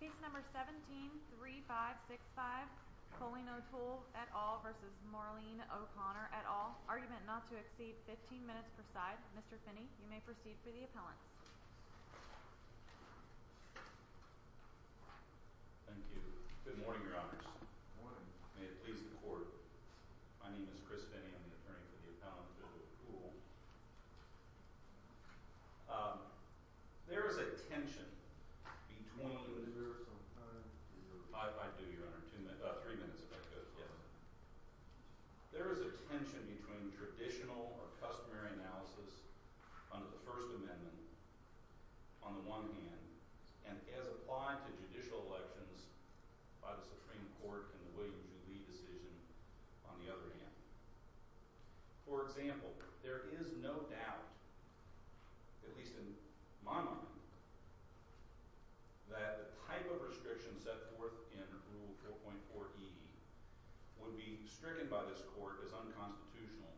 Case No. 17-3565 Coleen O Toole v. Maureen O Connor Argument not to exceed 15 minutes per side Mr. Finney, you may proceed for the appellants Thank you. Good morning, your honors Good morning May it please the court My name is Chris Finney. I'm the attorney for the appellant, Bill O Toole There is a tension between Do you have some time? I do, your honor. About three minutes if that goes well There is a tension between traditional or customary analysis under the First Amendment on the one hand and as applied to judicial elections by the Supreme Court and the William J. Lee decision on the other hand For example, there is no doubt at least in my mind that the type of restriction set forth in Rule 4.4e would be stricken by this court as unconstitutional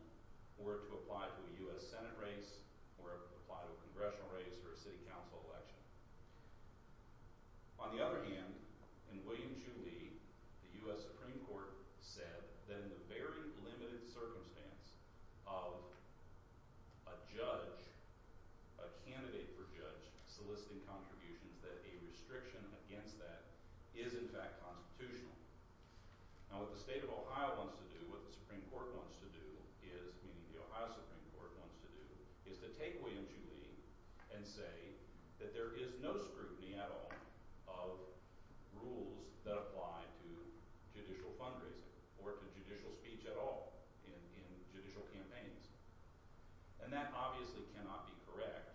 were it to apply to a U.S. Senate race or apply to a congressional race or a city council election On the other hand, in William J. Lee the U.S. Supreme Court said that in the very limited circumstance of a judge a candidate for judge soliciting contributions that a restriction against that is in fact constitutional Now what the state of Ohio wants to do what the Supreme Court wants to do meaning the Ohio Supreme Court wants to do is to take William J. Lee and say that there is no scrutiny at all of rules that apply to judicial fundraising or to judicial speech at all in judicial campaigns and that obviously cannot be correct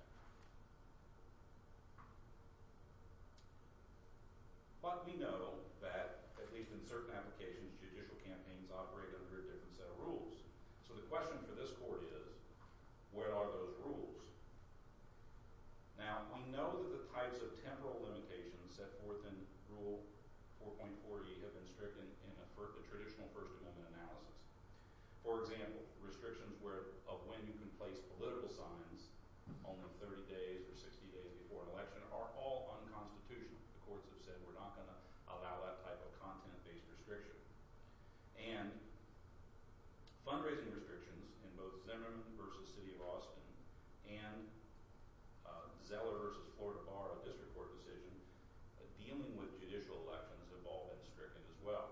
but we know that at least in certain applications judicial campaigns operate under a different set of rules so the question for this court is where are those rules? Now we know that the types of temporal limitations set forth in Rule 4.4e have been stricken in a traditional First Amendment analysis For example, restrictions of when you can place political signs only 30 days or 60 days before an election are all unconstitutional The courts have said we're not going to allow that type of content-based restriction and fundraising restrictions in both Zimmerman v. City of Austin and Zeller v. Florida Bar a district court decision dealing with judicial elections have all been stricken as well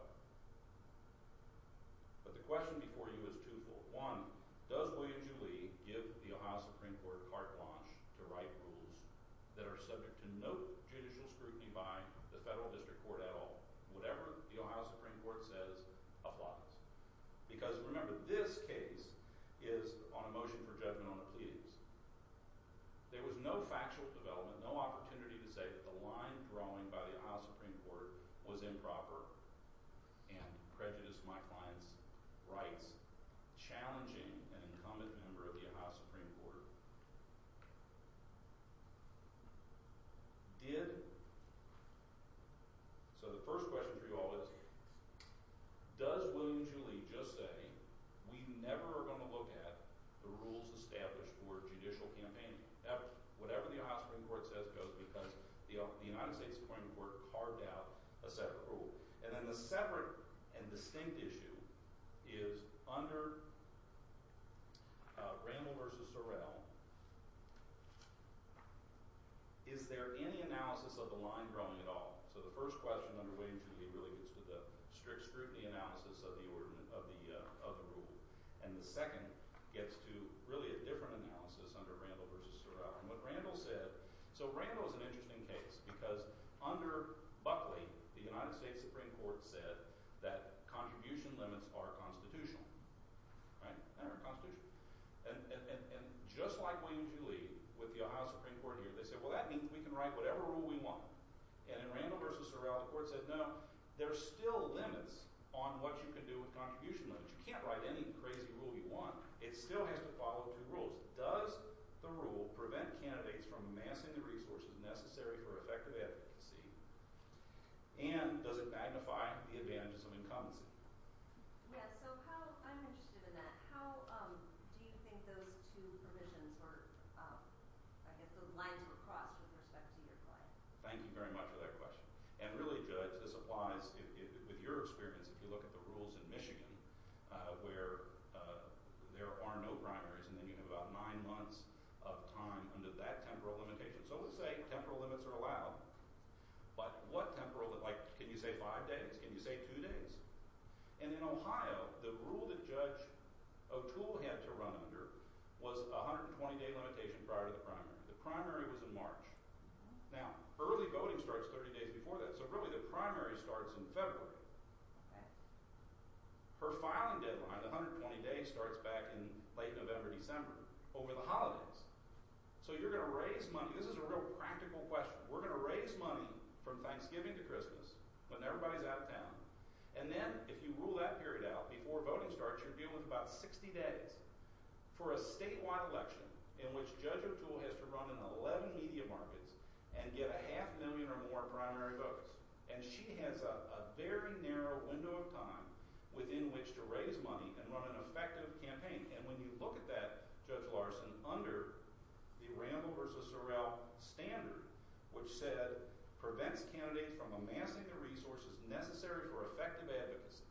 But the question before you is twofold One, does William J. Lee give the Ohio Supreme Court carte blanche to write rules that are subject to no judicial scrutiny by the federal district court at all whatever the Ohio Supreme Court says applies because remember this case is on a motion for judgment on the pleadings There was no factual development no opportunity to say that the line drawing by the Ohio Supreme Court was improper and prejudiced my client's rights challenging an incumbent member of the Ohio Supreme Court Did? So the first question for you all is does William J. Lee just say we never are going to look at the rules established for judicial campaigning whatever the Ohio Supreme Court says goes because the United States Supreme Court carved out a separate rule and then the separate and distinct issue is under Randall v. Sorrell is there any analysis of the line drawing at all So the first question under William J. Lee really gets to the strict scrutiny analysis of the rule and the second gets to really a different analysis under Randall v. Sorrell So Randall is an interesting case because under Buckley the United States Supreme Court said that contribution limits are constitutional and just like William J. Lee with the Ohio Supreme Court here they said well that means we can write whatever rule we want and in Randall v. Sorrell the court said no, there are still limits on what you can do with contribution limits you can't write any crazy rule you want it still has to follow two rules does the rule prevent candidates from amassing the resources necessary for effective advocacy and does it magnify the advantages of incumbency I'm interested in that how do you think those two provisions or I guess the lines were crossed with respect to your client Thank you very much for that question and really Judge this applies with your experience if you look at the rules in Michigan where there are no primaries and then you have about nine months of time under that temporal limitation so let's say temporal limits are allowed but what temporal like can you say five days can you say two days and in Ohio the rule that Judge O'Toole had to run under was a 120 day limitation prior to the primary the primary was in March now early voting starts 30 days before that so really the primary starts in February her filing deadline the 120 day starts back in late November, December over the holidays so you're going to raise money this is a real practical question we're going to raise money from Thanksgiving to Christmas when everybody's out of town and then if you rule that period out before voting starts you're dealing with about 60 days for a statewide election in which Judge O'Toole has to run in 11 media markets and get a half million or more primary votes and she has a very narrow window of time within which to raise money and run an effective campaign and when you look at that Judge Larson under the Rambo versus Sorrell standard which said prevents candidates from amassing the resources necessary for effective advocacy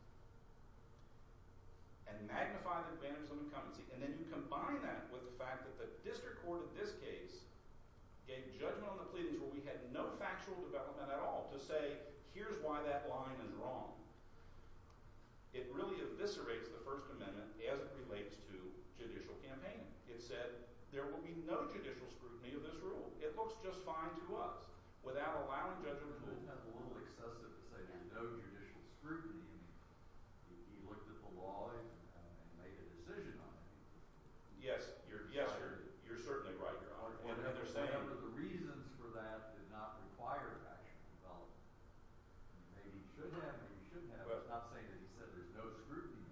and magnify the advantage of incumbency and then you combine that with the fact that the district court in this case gave judgment on the pleadings where we had no factual development at all to say here's why that line is wrong it really eviscerates the first amendment as it relates to judicial campaigning it said there will be no judicial scrutiny of this rule, it looks just fine to us without allowing Judge O'Toole to have a little excessive to say there's no judicial scrutiny he looked at the law and made a decision on it yes, you're certainly right one of the reasons for that did not require actual development maybe it should have maybe it shouldn't have, it's not saying that he said there's no scrutiny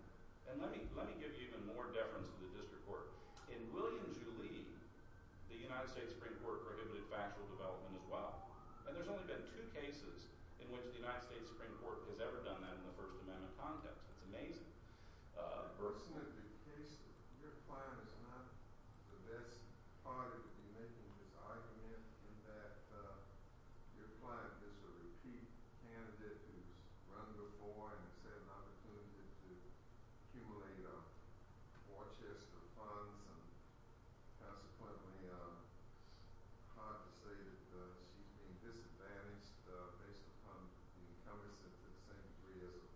yet let me give you even more deference to the district court in William Julie the United States Supreme Court prohibited factual development as well and there's only been two cases in which the United States Supreme Court has ever done that in the first amendment context it's amazing personally the case, your client is not the best party to be making this argument in that your client is a repeat candidate who's run before and has had an opportunity to accumulate Worcester funds and consequently it's probably hard to say that she's being disadvantaged based upon the incumbency to the same degree as a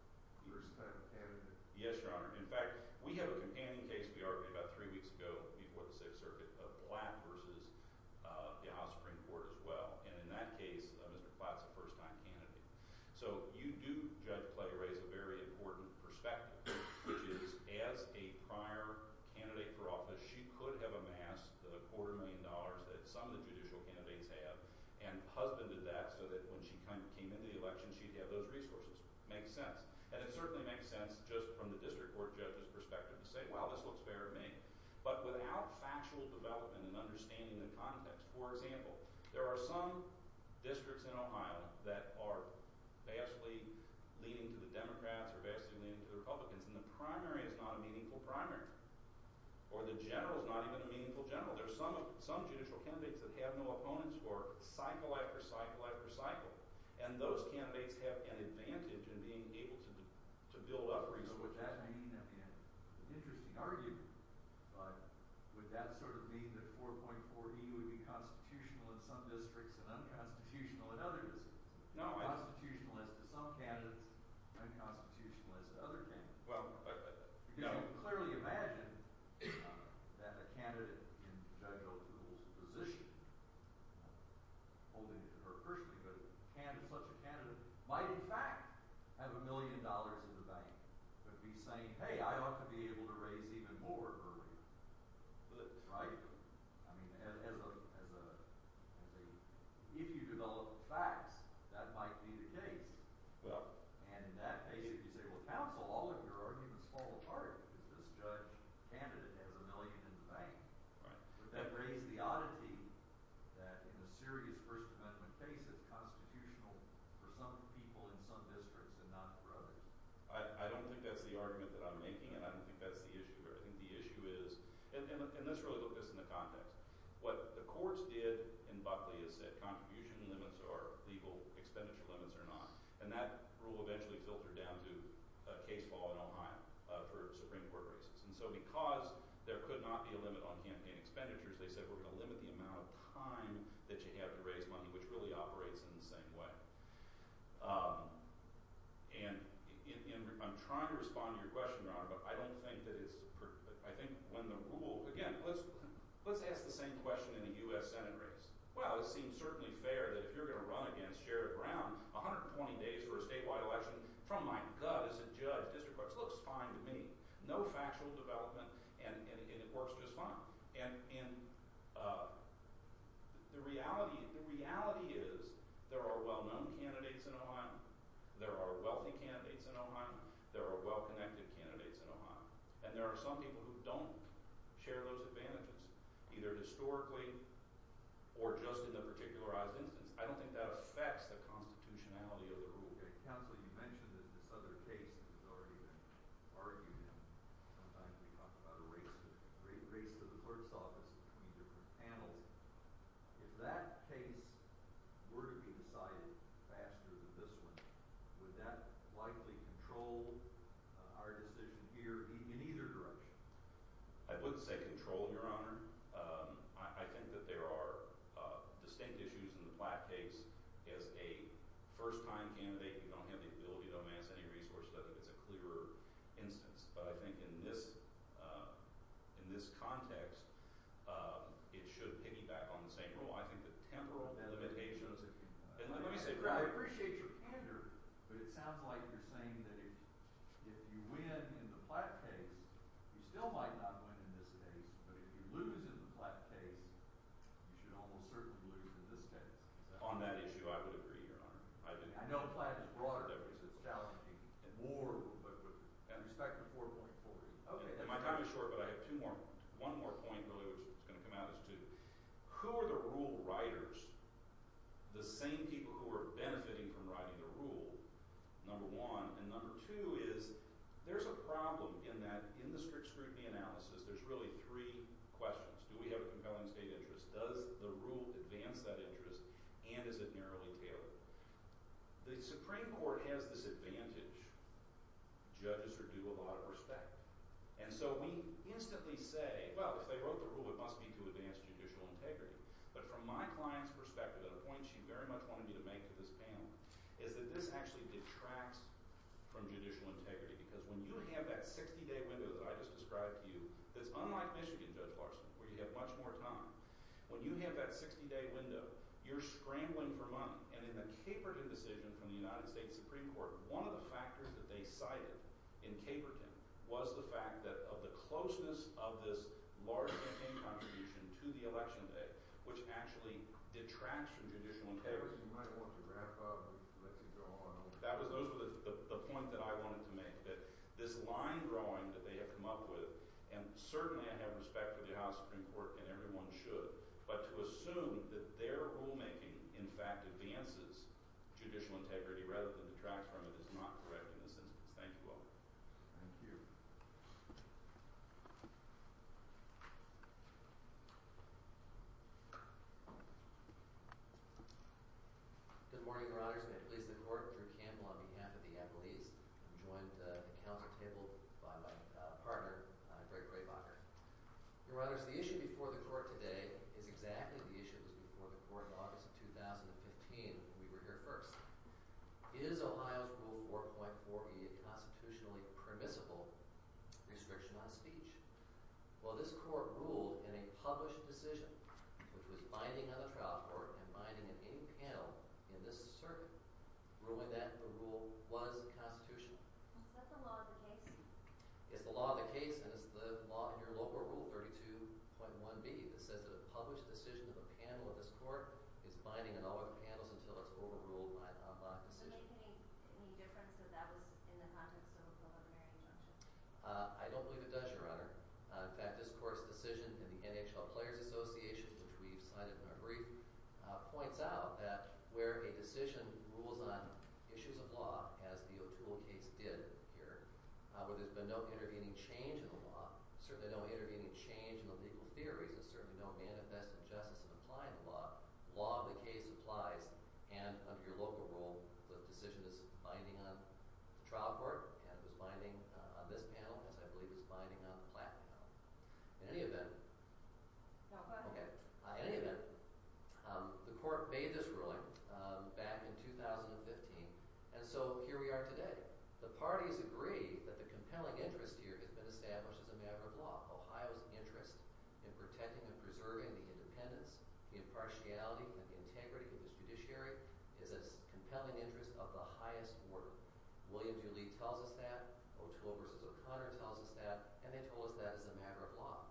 first time candidate yes your honor, in fact we have a companion case we argued about three weeks ago before the 6th circuit of Blatt versus the House Supreme Court as well and in that case Mr. Blatt's a first time Judge Clay raise a very important perspective, which is as a prior candidate for office she could have amassed a quarter million dollars that some of the judicial candidates have and husbanded that so that when she came into the election she'd have those resources, makes sense and it certainly makes sense just from the district court judges perspective to say, well this looks fair to me, but without factual development and understanding the context for example, there are some districts in Ohio that are vastly leaning to the Democrats or vastly leaning to the Republicans and the primary is not a meaningful primary, or the general is not even a meaningful general, there are some judicial candidates that have no opponents or cycle after cycle after cycle and those candidates have an advantage in being able to build up resources interesting argument but would that sort of mean that 4.4E would be constitutional in some districts and unconstitutional in others constitutional as to some candidates unconstitutional as to other candidates you can clearly imagine that a candidate in Judge O'Toole's position holding it to her personally but such a candidate might in fact have a million dollars in the bank but be saying, hey I ought to be able to raise even more earlier as a if you develop facts, that might be the case and in that case if you say, well counsel, all of your arguments fall apart because this judge candidate has a million in the bank would that raise the oddity that in a serious first amendment case it's constitutional for some people in some districts and not for others I don't think that's the argument that I'm making and I don't think that's the issue here, I think the issue is and let's really look at this in the context what the courts did in Buckley is set contribution limits or legal expenditure limits or not and that rule eventually filtered down to case law in Ohio for Supreme Court races and so because there could not be a limit on campaign expenditures, they said we're going to limit the amount of time that you have to raise money which really operates in the same way and I'm trying to respond to your question, Your Honor, but I don't think that I think when the rule again, let's ask the same question in a U.S. Senate race well, it seems certainly fair that if you're going to run against Sherrod Brown 120 days for a statewide election from my gut as a judge, district courts looks fine to me, no factual development and it works just fine and the reality is there are well-known candidates in Ohio there are wealthy candidates in Ohio there are well-connected candidates in Ohio and there are some people who don't share those advantages either historically or just in a particularized instance I don't think that affects the constitutionality of the rule. Counsel, you mentioned that this other case has already been argued sometimes we talk about a race to the clerk's office between different panels if that case were to be decided faster than this one would that likely control our decision here in either direction? I wouldn't say control, your honor I think that there are distinct issues in the Platt case as a first-time candidate, you don't have the ability to amass any resources, it's a clearer instance, but I think in this in this context it should piggyback on the same rule, I think the temporal limitations I appreciate your candor but it sounds like you're saying that if you win in the Platt case you still might not win in this case but if you lose in the Platt case you should almost certainly lose in this case. On that issue I would agree, your honor. I know Platt is broader because it's challenging and more, but with respect to 4.40. My time is short but I have one more point which is going to come out as two. Who are the rule writers the same people who are benefiting from writing the rule number one, and number two is there's a problem in that in the strict scrutiny analysis there's really three questions, do we have a compelling state interest, does the rule advance that interest, and is it narrowly tailored? The Supreme Court has this advantage judges are due a lot of respect, and so we instantly say, well if they wrote the rule it must be to advance judicial integrity but from my client's perspective the point she very much wanted me to make to this panel is that this actually detracts from judicial integrity because when you have that 60 day window that I just described to you that's unlike Michigan Judge Larson where you have much more time, when you have that 60 day window, you're scrambling for money, and in the Caperton decision from the United States Supreme Court one of the factors that they cited in Caperton was the fact that of the closeness of this large campaign contribution to the election day, which actually detracts from judicial integrity you might want to wrap up and let you go on those were the points that I wanted to make, that this line drawing that they have come up with, and certainly I have respect for the House Supreme Court and everyone should, but to assume that their rule making in fact advances judicial integrity rather than detracts from it is not correct in this instance. Thank you all. Thank you. Good morning, your honors. May it please the court, Drew Campbell on behalf of the appellees. I'm joined at the council table by my partner, Greg Graebacher. Your honors, the issue before the court today is exactly the issue that was before the court in August of 2015 when we were here first. Is Ohio's Rule 4.40 a constitutionally permissible restriction on speech? Well, this court ruled in a published decision which was binding on the trial court and binding on any panel in this circuit ruling that the rule was constitutional. Is that the law of the case? It's the law of the case and it's the law in your local rule 32.1b that says that a published decision of a panel of this court is binding on all other panels until it's overruled by the outlawed decision. Would it make any difference if that was in the context of a preliminary injunction? I don't believe it does, your honor. In fact, this court's decision in the NHL Players Association, which we have cited in our brief, points out that where a decision rules on issues of law as the O'Toole case did here where there's been no intervening change in the law, certainly no intervening change in the legal theories, there's certainly no manifest injustice in applying the law, the law of the case applies and under your local rule, the trial court and it was binding on this panel as I believe it's binding on the Platt panel. In any event, In any event, the court made this ruling back in 2015 and so here we are today. The parties agree that the compelling interest here has been established as a matter of law. Ohio's interest in protecting and preserving the independence, the impartiality and the integrity of its judiciary is its compelling interest of the highest order. William Dooley tells us that, O'Toole v. O'Connor tells us that, and they told us that as a matter of law.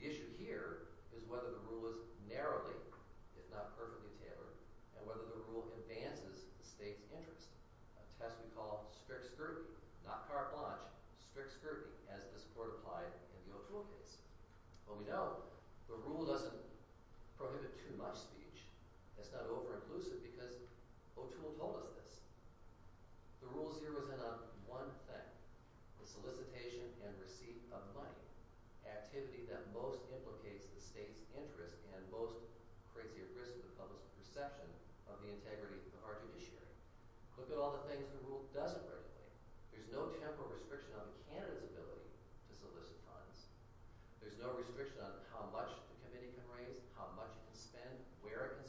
The issue here is whether the rule is narrowly if not perfectly tailored and whether the rule advances the state's interest. A test we call strict scrutiny, not carte blanche, strict scrutiny as this court applied in the O'Toole case. But we know the rule doesn't prohibit too much speech. It's not over-inclusive because O'Toole told us this. The rule zeroes in on one thing. The solicitation and receipt of money. Activity that most implicates the state's interest and most creates a risk to the public's perception of the integrity of our judiciary. Look at all the things the rule doesn't regulate. There's no temporal restriction on a candidate's ability to solicit funds. There's no restriction on how much the committee can raise, how much it can spend, where it can go. So you're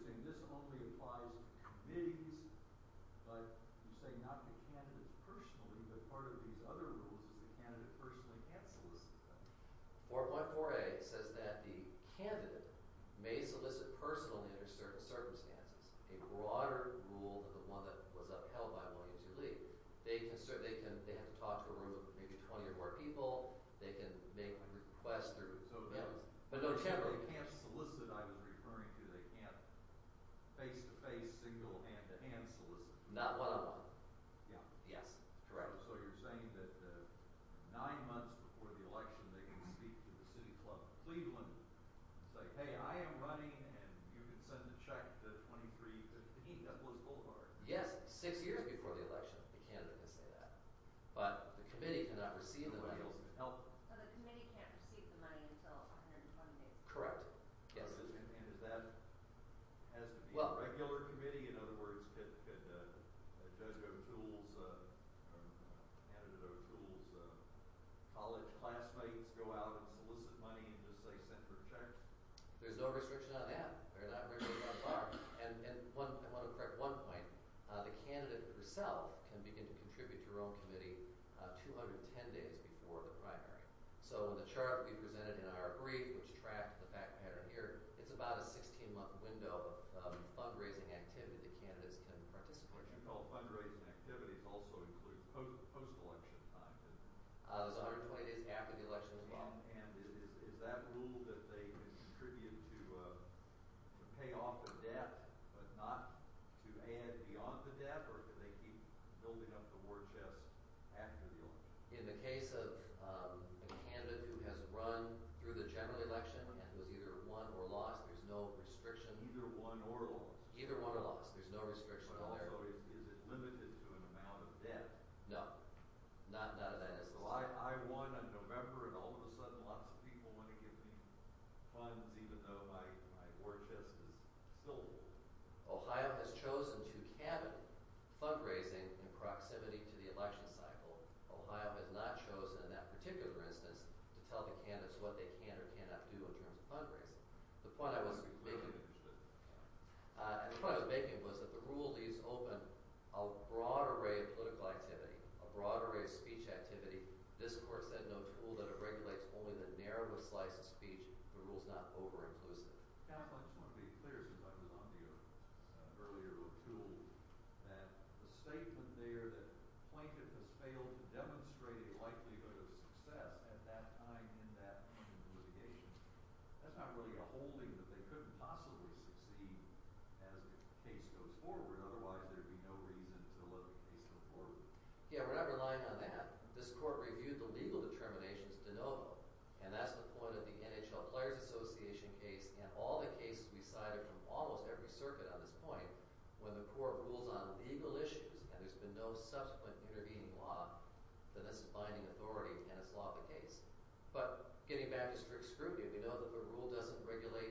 saying this only applies to committees, but you're saying not the candidates personally, but part of these other rules is the candidate personally can't solicit. 414A says that the candidate may solicit personally under certain circumstances. A broader rule than the one that was upheld by William T. Lee. They have to talk to a room of maybe 20 or more people. They can make a request through So they can't solicit I was referring to. They can't face-to-face, single hand-to-hand solicit. Not one-on-one. Yeah. Yes. So you're saying that nine months before the election they can speak to the City Club of Cleveland and say, hey, I am running and you can send a check to 2315 Nicholas Boulevard. Yes, six years before the election the candidate can say that. But the committee cannot receive the money. So the committee can't receive the money until 120 days. Correct. Yes. And does that have to be a regular committee? In other words, could Judge O'Toole's candidate O'Toole's college classmates go out and solicit money and just say send for a check? There's no restriction on that. And I want to correct one point. The candidate herself can begin to contribute to her own committee 210 days before the primary. So in the chart we presented in our brief, which tracked the fact pattern here, it's about a 16-month window of fundraising activity that candidates can participate in. You call fundraising activities also include post-election time. There's 120 days after the election as well. And is that rule that they contribute to pay off the debt but not to add beyond the debt? Or do they keep building up the war chest after the election? In the case of a candidate who has run through the general election and was either won or lost, there's no restriction. Either won or lost. There's no restriction on that. Is it limited to an amount of debt? No. None of that is. I won in November and all of a sudden lots of people want to give me funds even though my war chest is still full. Ohio has chosen to limit fundraising in proximity to the election cycle. Ohio has not chosen in that particular instance to tell the candidates what they can or cannot do in terms of fundraising. The point I was making was that the rule leaves open a broad array of political activity, a broad array of speech activity. This court said no tool that it regulates only the narrowest slice of speech. The rule's not over-inclusive. I just want to be clear since I was on the earlier tool that the statement there that Plaintiff has failed to demonstrate a likelihood of success at that time in that litigation, that's not really a holding that they couldn't possibly succeed as the case goes forward. Otherwise there'd be no reason to let the case go forward. Yeah, we're not relying on that. This court reviewed the legal determinations to know and that's the point of the NHL Players Association case and all the circuit on this point. When the court rules on legal issues and there's been no subsequent intervening law then that's a binding authority and it's law of the case. But getting back to strict scrutiny, we know that the rule doesn't regulate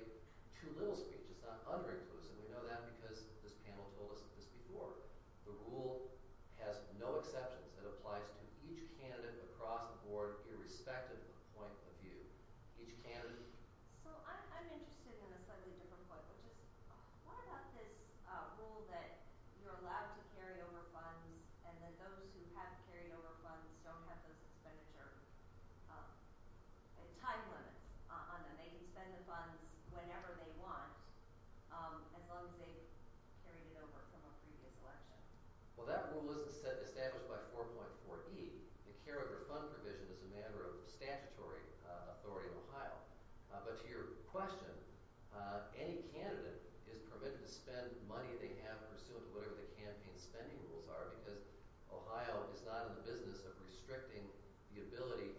too little speech. It's not under-inclusive. We know that because this panel told us this before. The rule has no exceptions. It applies to each candidate across the board irrespective of the point of view. Each candidate... So I'm interested in a slightly different point, which is what about this rule that you're allowed to carry over funds and that those who have carried over funds don't have those expenditure time limits on them. They can spend the funds whenever they want as long as they've carried it over from a previous election. Well that rule isn't established by 4.4E. The carry over fund provision is a matter of statutory authority in Ohio. But to your question, any candidate is permitted to spend money they have pursuant to whatever the campaign spending rules are because Ohio is not in the business of restricting the ability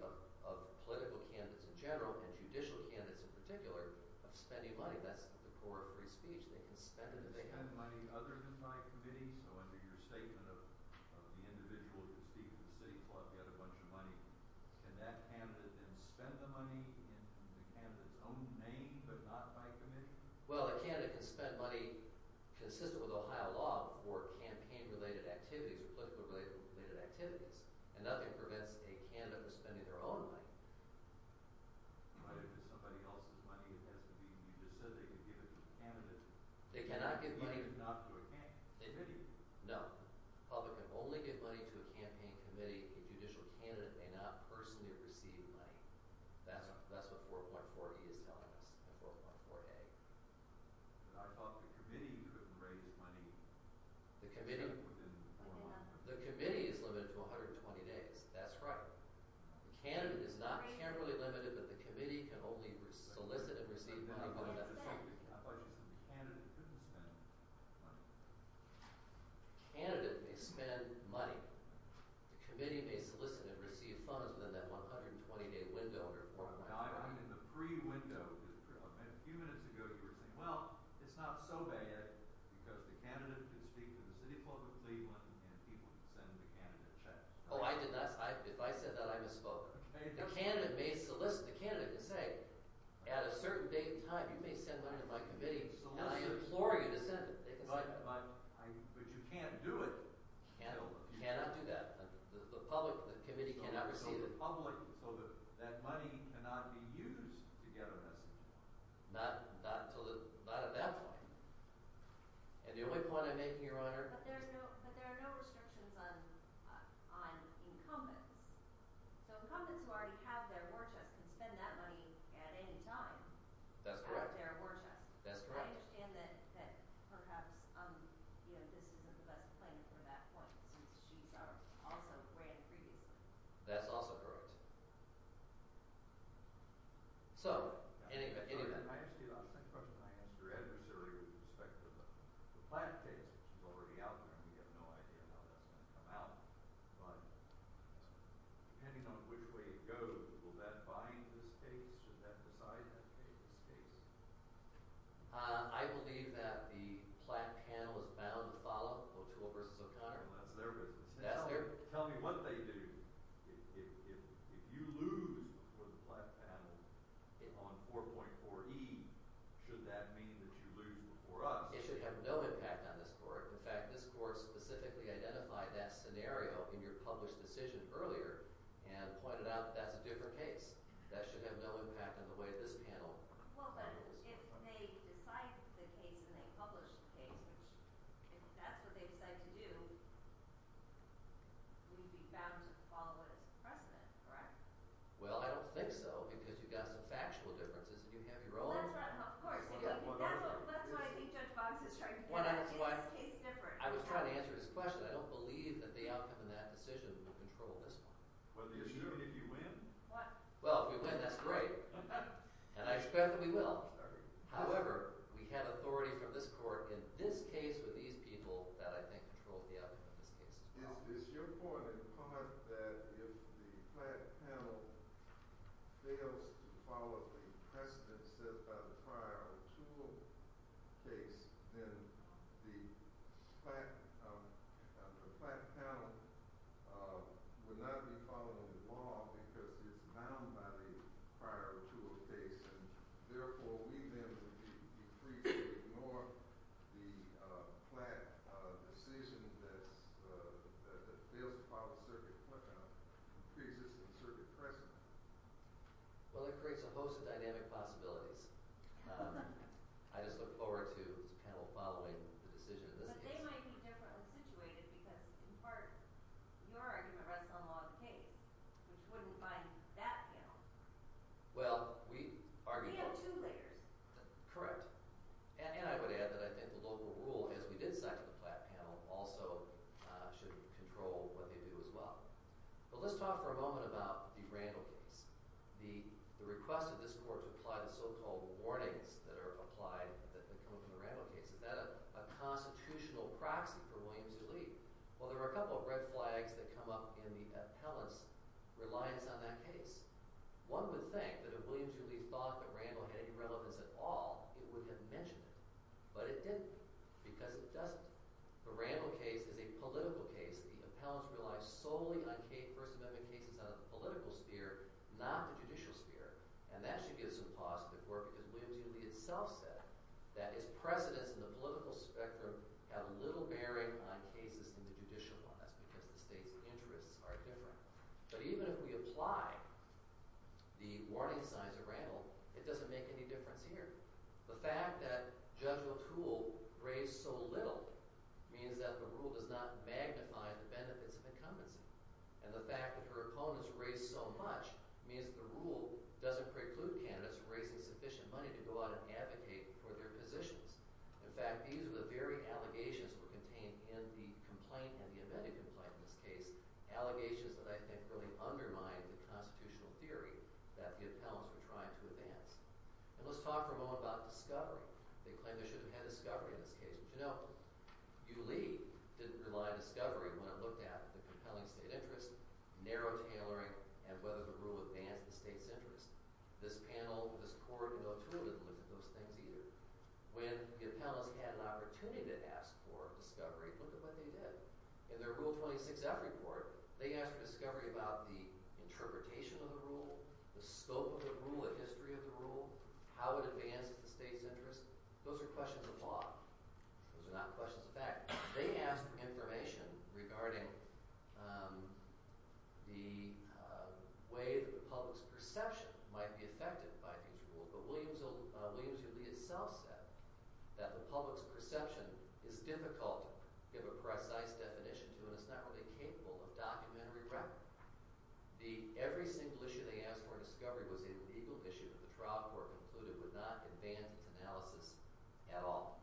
of political candidates in general and judicial candidates in particular of spending money. That's the core of free speech. They can spend it if they have it. Can they spend money other than by committee? So under your statement of the individual who can speak for the city, can that candidate then spend the money in the candidate's own name but not by committee? Well a candidate can spend money consistent with Ohio law for campaign related activities or political related activities and nothing prevents a candidate from spending their own money. But if it's somebody else's money it has to be, you just said they can give it to a candidate. They cannot give money to a candidate? No. The public can only give money to a campaign committee. A judicial candidate may not personally receive money. That's what 4.4 E is telling us and 4.4 A. But I thought the committee couldn't raise money The committee The committee is limited to 120 days. That's right. The candidate is not generally limited but the committee can only solicit and receive money. I thought you said the candidate couldn't spend money. The candidate may spend money The committee may solicit and receive funds within that 120 day window. I'm in the pre-window. A few minutes ago you were saying well it's not so bad because the candidate can speak to the city of Cleveland and people can send the candidate checks. Oh I did not. If I said that I misspoke. The candidate may solicit the candidate to say at a certain date and time you may send money to my committee and I implore you to send it. But you can't do it. You cannot do that. The committee cannot receive it. So that money cannot be used to get a message. Not at that point. And the only point I'm making Your Honor. But there are no restrictions on incumbents. So incumbents who already have their war chest can spend that money at any time. That's correct. I understand that perhaps this isn't the best plan for that point since she's also ran previously. That's also correct. So I asked you the same question I asked your adversary with respect to the plant case which is already out there and we have no idea how that's going to come out. Depending on which way it goes, will that bind this case? Should that decide that case? I believe that the plant panel is bound to follow. That's their business. Tell me what they do. If you lose on 4.4E should that mean that you lose before us? It should have no impact on this court. In fact, this court specifically identified that scenario in your published decision earlier and pointed out that that's a different case. That should have no impact on the way this panel will go. But if they decide the case and they publish the case and that's what they decide to do we'd be bound to follow what is the precedent, correct? Well, I don't think so because you've got some factual differences and you have your own. That's why I think Judge Boggs is trying to get at is this case different? I was trying to answer his question. I don't believe that the outcome of that decision will control this one. Well, if you win? Well, if we win, that's great. And I expect that we will. However, we have authority from this court in this case with these people that I think controls the outcome of this case. Is your point in part that if the Platt panel fails to follow the precedent set by the prior O'Toole case then the Platt panel would not be following the law because it's bound by the prior O'Toole case and therefore we then would be free to ignore the Platt decision that fails to follow the circuit precedent in the pre-existing circuit precedent. Well, it creates a host of dynamic possibilities. I just look forward to this panel following the decision in this case. But they might be differently situated because, in part, your argument rests on the law of the case, which wouldn't bind that panel. We have two layers. Correct. And I would add that I think the local rule is we did say that the Platt panel also should control what they do as well. Let's talk for a moment about the Randall case. The request of this court to apply the so-called warnings that come from the Randall case. Is that a constitutional proxy for Williams v. Lee? Well, there are a couple of red flags that come up in the appellant's reliance on that case. One would think that if Williams v. Lee thought that Randall had any relevance at all, it would have mentioned it. But it didn't because it doesn't. The Randall case is a political case. The appellants rely solely on First Amendment cases on the political sphere, not the judicial sphere. And that should give us some pause for the court because Williams v. Lee itself said that his precedents in the political spectrum have little bearing on cases in the judicial one. That's because the state's interests are different. But even if we apply the warning signs of Randall, it doesn't make any difference here. The fact that Judge O'Toole raised so little means that the rule does not magnify the benefits of incumbency. And the fact that her opponents raised so much means the rule doesn't preclude candidates raising sufficient money to go out and advocate for their positions. In fact, these are the very allegations that were contained in the complaint, and the amended complaint in this case, allegations that I think really undermine the constitutional theory that the appellants were trying to advance. And let's talk for a moment about discovery. They claim they should have had discovery in this case. But you know, U. Lee didn't rely on discovery when it looked at the compelling state interest, narrow tailoring, and whether the rule advanced the state's interest. This panel, this court, and O'Toole didn't look at those things either. When the appellants had an opportunity to ask for discovery, look at what they did. In their Rule 26-F report, they asked for discovery about the interpretation of the rule, the scope of the rule, the history of the rule, how it advanced the state's interest. Those are questions of law. Those are not questions of fact. They asked for information regarding the way that the public's perception might be affected by these rules. But Williams himself said that the public's perception is difficult to give a precise definition to, and it's not really capable of documentary record. Every single issue they asked for in discovery was a legal issue that the trial court concluded would not advance its analysis at all.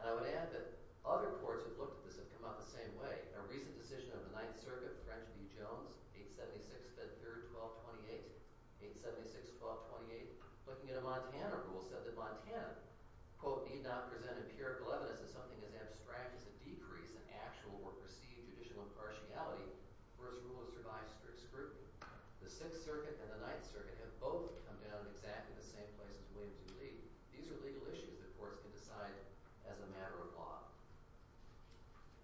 And I would add that other courts who have looked at this have come out the same way. A recent decision on the 876-512-28, 876-1228, looking at a Montana rule, said that Montana, quote, need not present empirical evidence that something as abstract as a decrease in actual or perceived judicial impartiality versus rule-of-survival scrutiny. The Sixth Circuit and the Ninth Circuit have both come down exactly the same place as Williams and Lee. These are legal issues that courts can decide as a matter of law.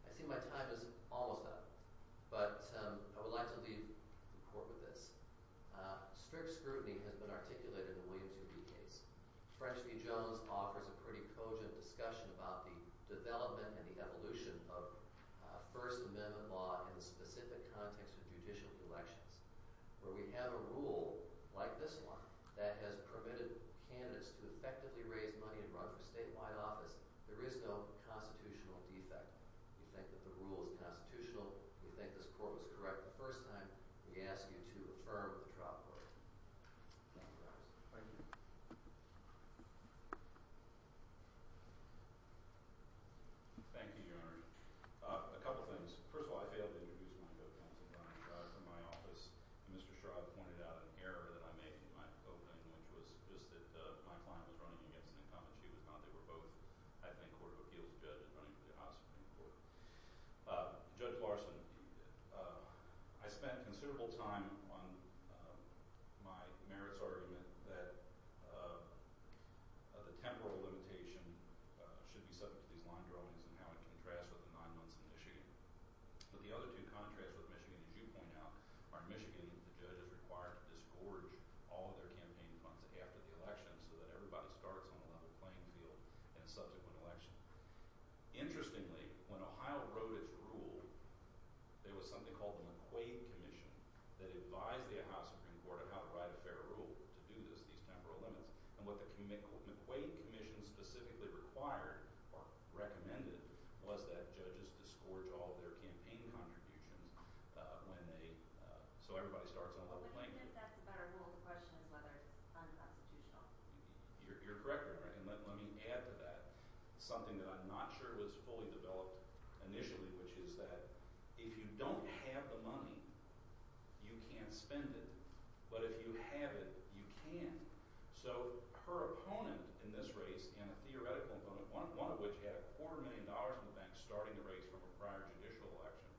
I see my time is almost up, but I would like to leave the court with this. Strict scrutiny has been articulated in the Williams and Lee case. French v. Jones offers a pretty cogent discussion about the development and the evolution of First Amendment law in the specific context of judicial elections, where we have a rule, like this one, that has permitted candidates to effectively raise money and run for statewide office. There is no constitutional defect. We think that the rule is constitutional. We think this court was correct the first time. We ask you to affirm the trial court. Thank you. Thank you, Your Honor. A couple things. First of all, I failed to introduce my co-counsel, Brian Schraub, from my office. Mr. Schraub pointed out an error that I made in my opening, which was just that my client was running against an incumbent. She was not. They were both, I think, running for the Supreme Court. Judge Larson, I spent considerable time on my merits argument that the temporal limitation should be subject to these line drawings and how it contrasts with the nine months in Michigan. But the other two contrasts with Michigan, as you point out, are in Michigan that the judge is required to disgorge all of their campaign funds after the election so that everybody starts on a level playing field in a subsequent election. Interestingly, when Ohio wrote its rule, there was something called the McQuaid Commission that advised the Ohio Supreme Court on how to write a fair rule to do these temporal limits. And what the McQuaid Commission specifically required or recommended was that judges disgorge all of their campaign contributions when they...so everybody starts on a level playing field. But if that's a better rule, the question is whether it's unconstitutional. You're correct, and let me add to that something that I'm not sure was fully developed initially, which is that if you don't have the money, you can't spend it. But if you have it, you can. So her opponent in this race, and a theoretical opponent, one of which had a quarter million dollars in the bank starting the race from a prior judicial election,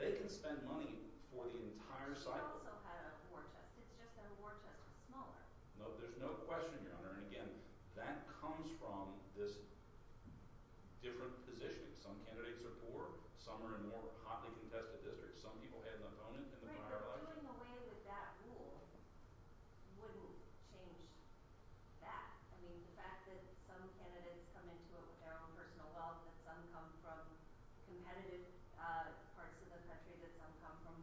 they can spend money for the entire cycle. She also had a war chest. It's just that her war chest was smaller. No, there's no question, Your Honor. And again, that comes from this different positioning. Some candidates are poor. Some are in more hotly contested districts. Some people had an opponent in the prior election. Doing away with that rule wouldn't change that. I mean, the fact that some candidates come into it with their own personal wealth, and some come from competitive parts of the country, that some come from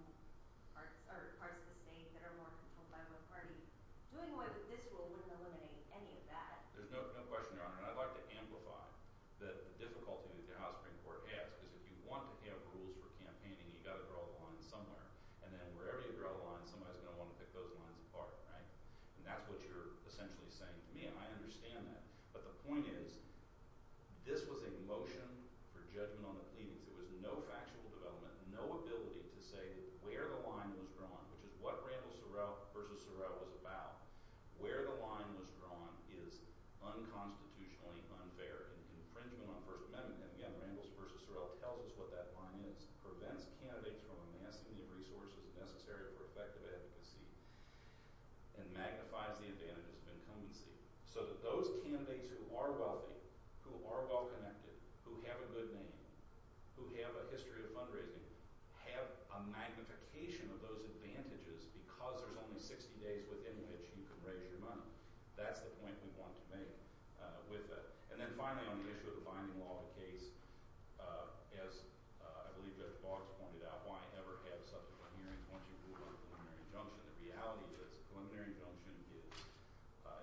parts of the state that are more controlled by one party, doing away with this rule wouldn't eliminate any of that. There's no question, Your Honor. And I'd like to amplify the difficulty that the House Supreme Court has. Because if you want to have rules for campaigning, you've got to draw the line somewhere. And then wherever you draw the line, somebody's going to want to pick those lines apart, right? And that's what you're essentially saying to me, and I understand that. But the point is, this was a motion for judgment on the pleadings. There was no factual development, no ability to say where the line was drawn, which is what Randall versus Sorrell was about. Where the line was drawn is unconstitutionally unfair and infringement on the First Amendment. And again, Randall versus Sorrell tells us what that line is. Prevents candidates from amassing the resources necessary for effective advocacy, and magnifies the advantages of incumbency. So that those candidates who are wealthy, who are well-connected, who have a good name, who have a history of fundraising, have a magnification of those advantages because there's only 60 days within which you can raise your money. That's the point we want to make with that. And then finally on the issue of the finding law of the case, as I believe Judge Boggs pointed out, why ever have subsequent hearings once you've ruled a preliminary injunction? The reality is a preliminary injunction is,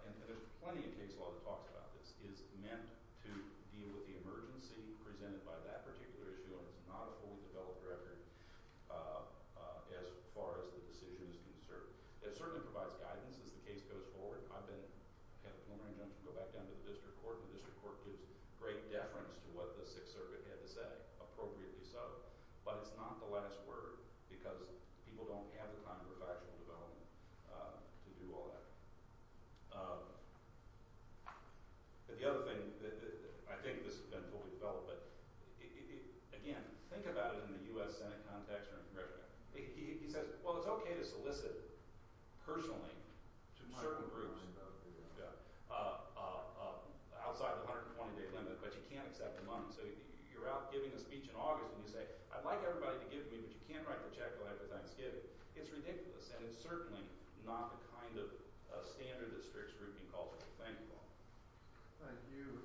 and there's plenty of case law that talks about this, is meant to deal with the emergency presented by that particular issue, and it's not a fully developed record as far as the decision is concerned. It certainly provides guidance as the case goes forward. I've been, had a preliminary injunction go back down to the district court, and the district court gives great deference to what the Sixth Circuit had to say, appropriately so, but it's not the last word because people don't have the time for factual development to do all that. But the other thing, I think this has been fully developed, but, again, think about it in the U.S. Senate context or in Congressional context. He says, well, it's okay to solicit personally to certain groups outside the 120-day limit, but you can't accept the money, so you're out giving a speech in August, and you say, I'd like everybody to give me, but you can't write the check right before Thanksgiving. It's ridiculous, and it's certainly not the kind of standard that strict scrutiny calls for. Thank you all. Thank you.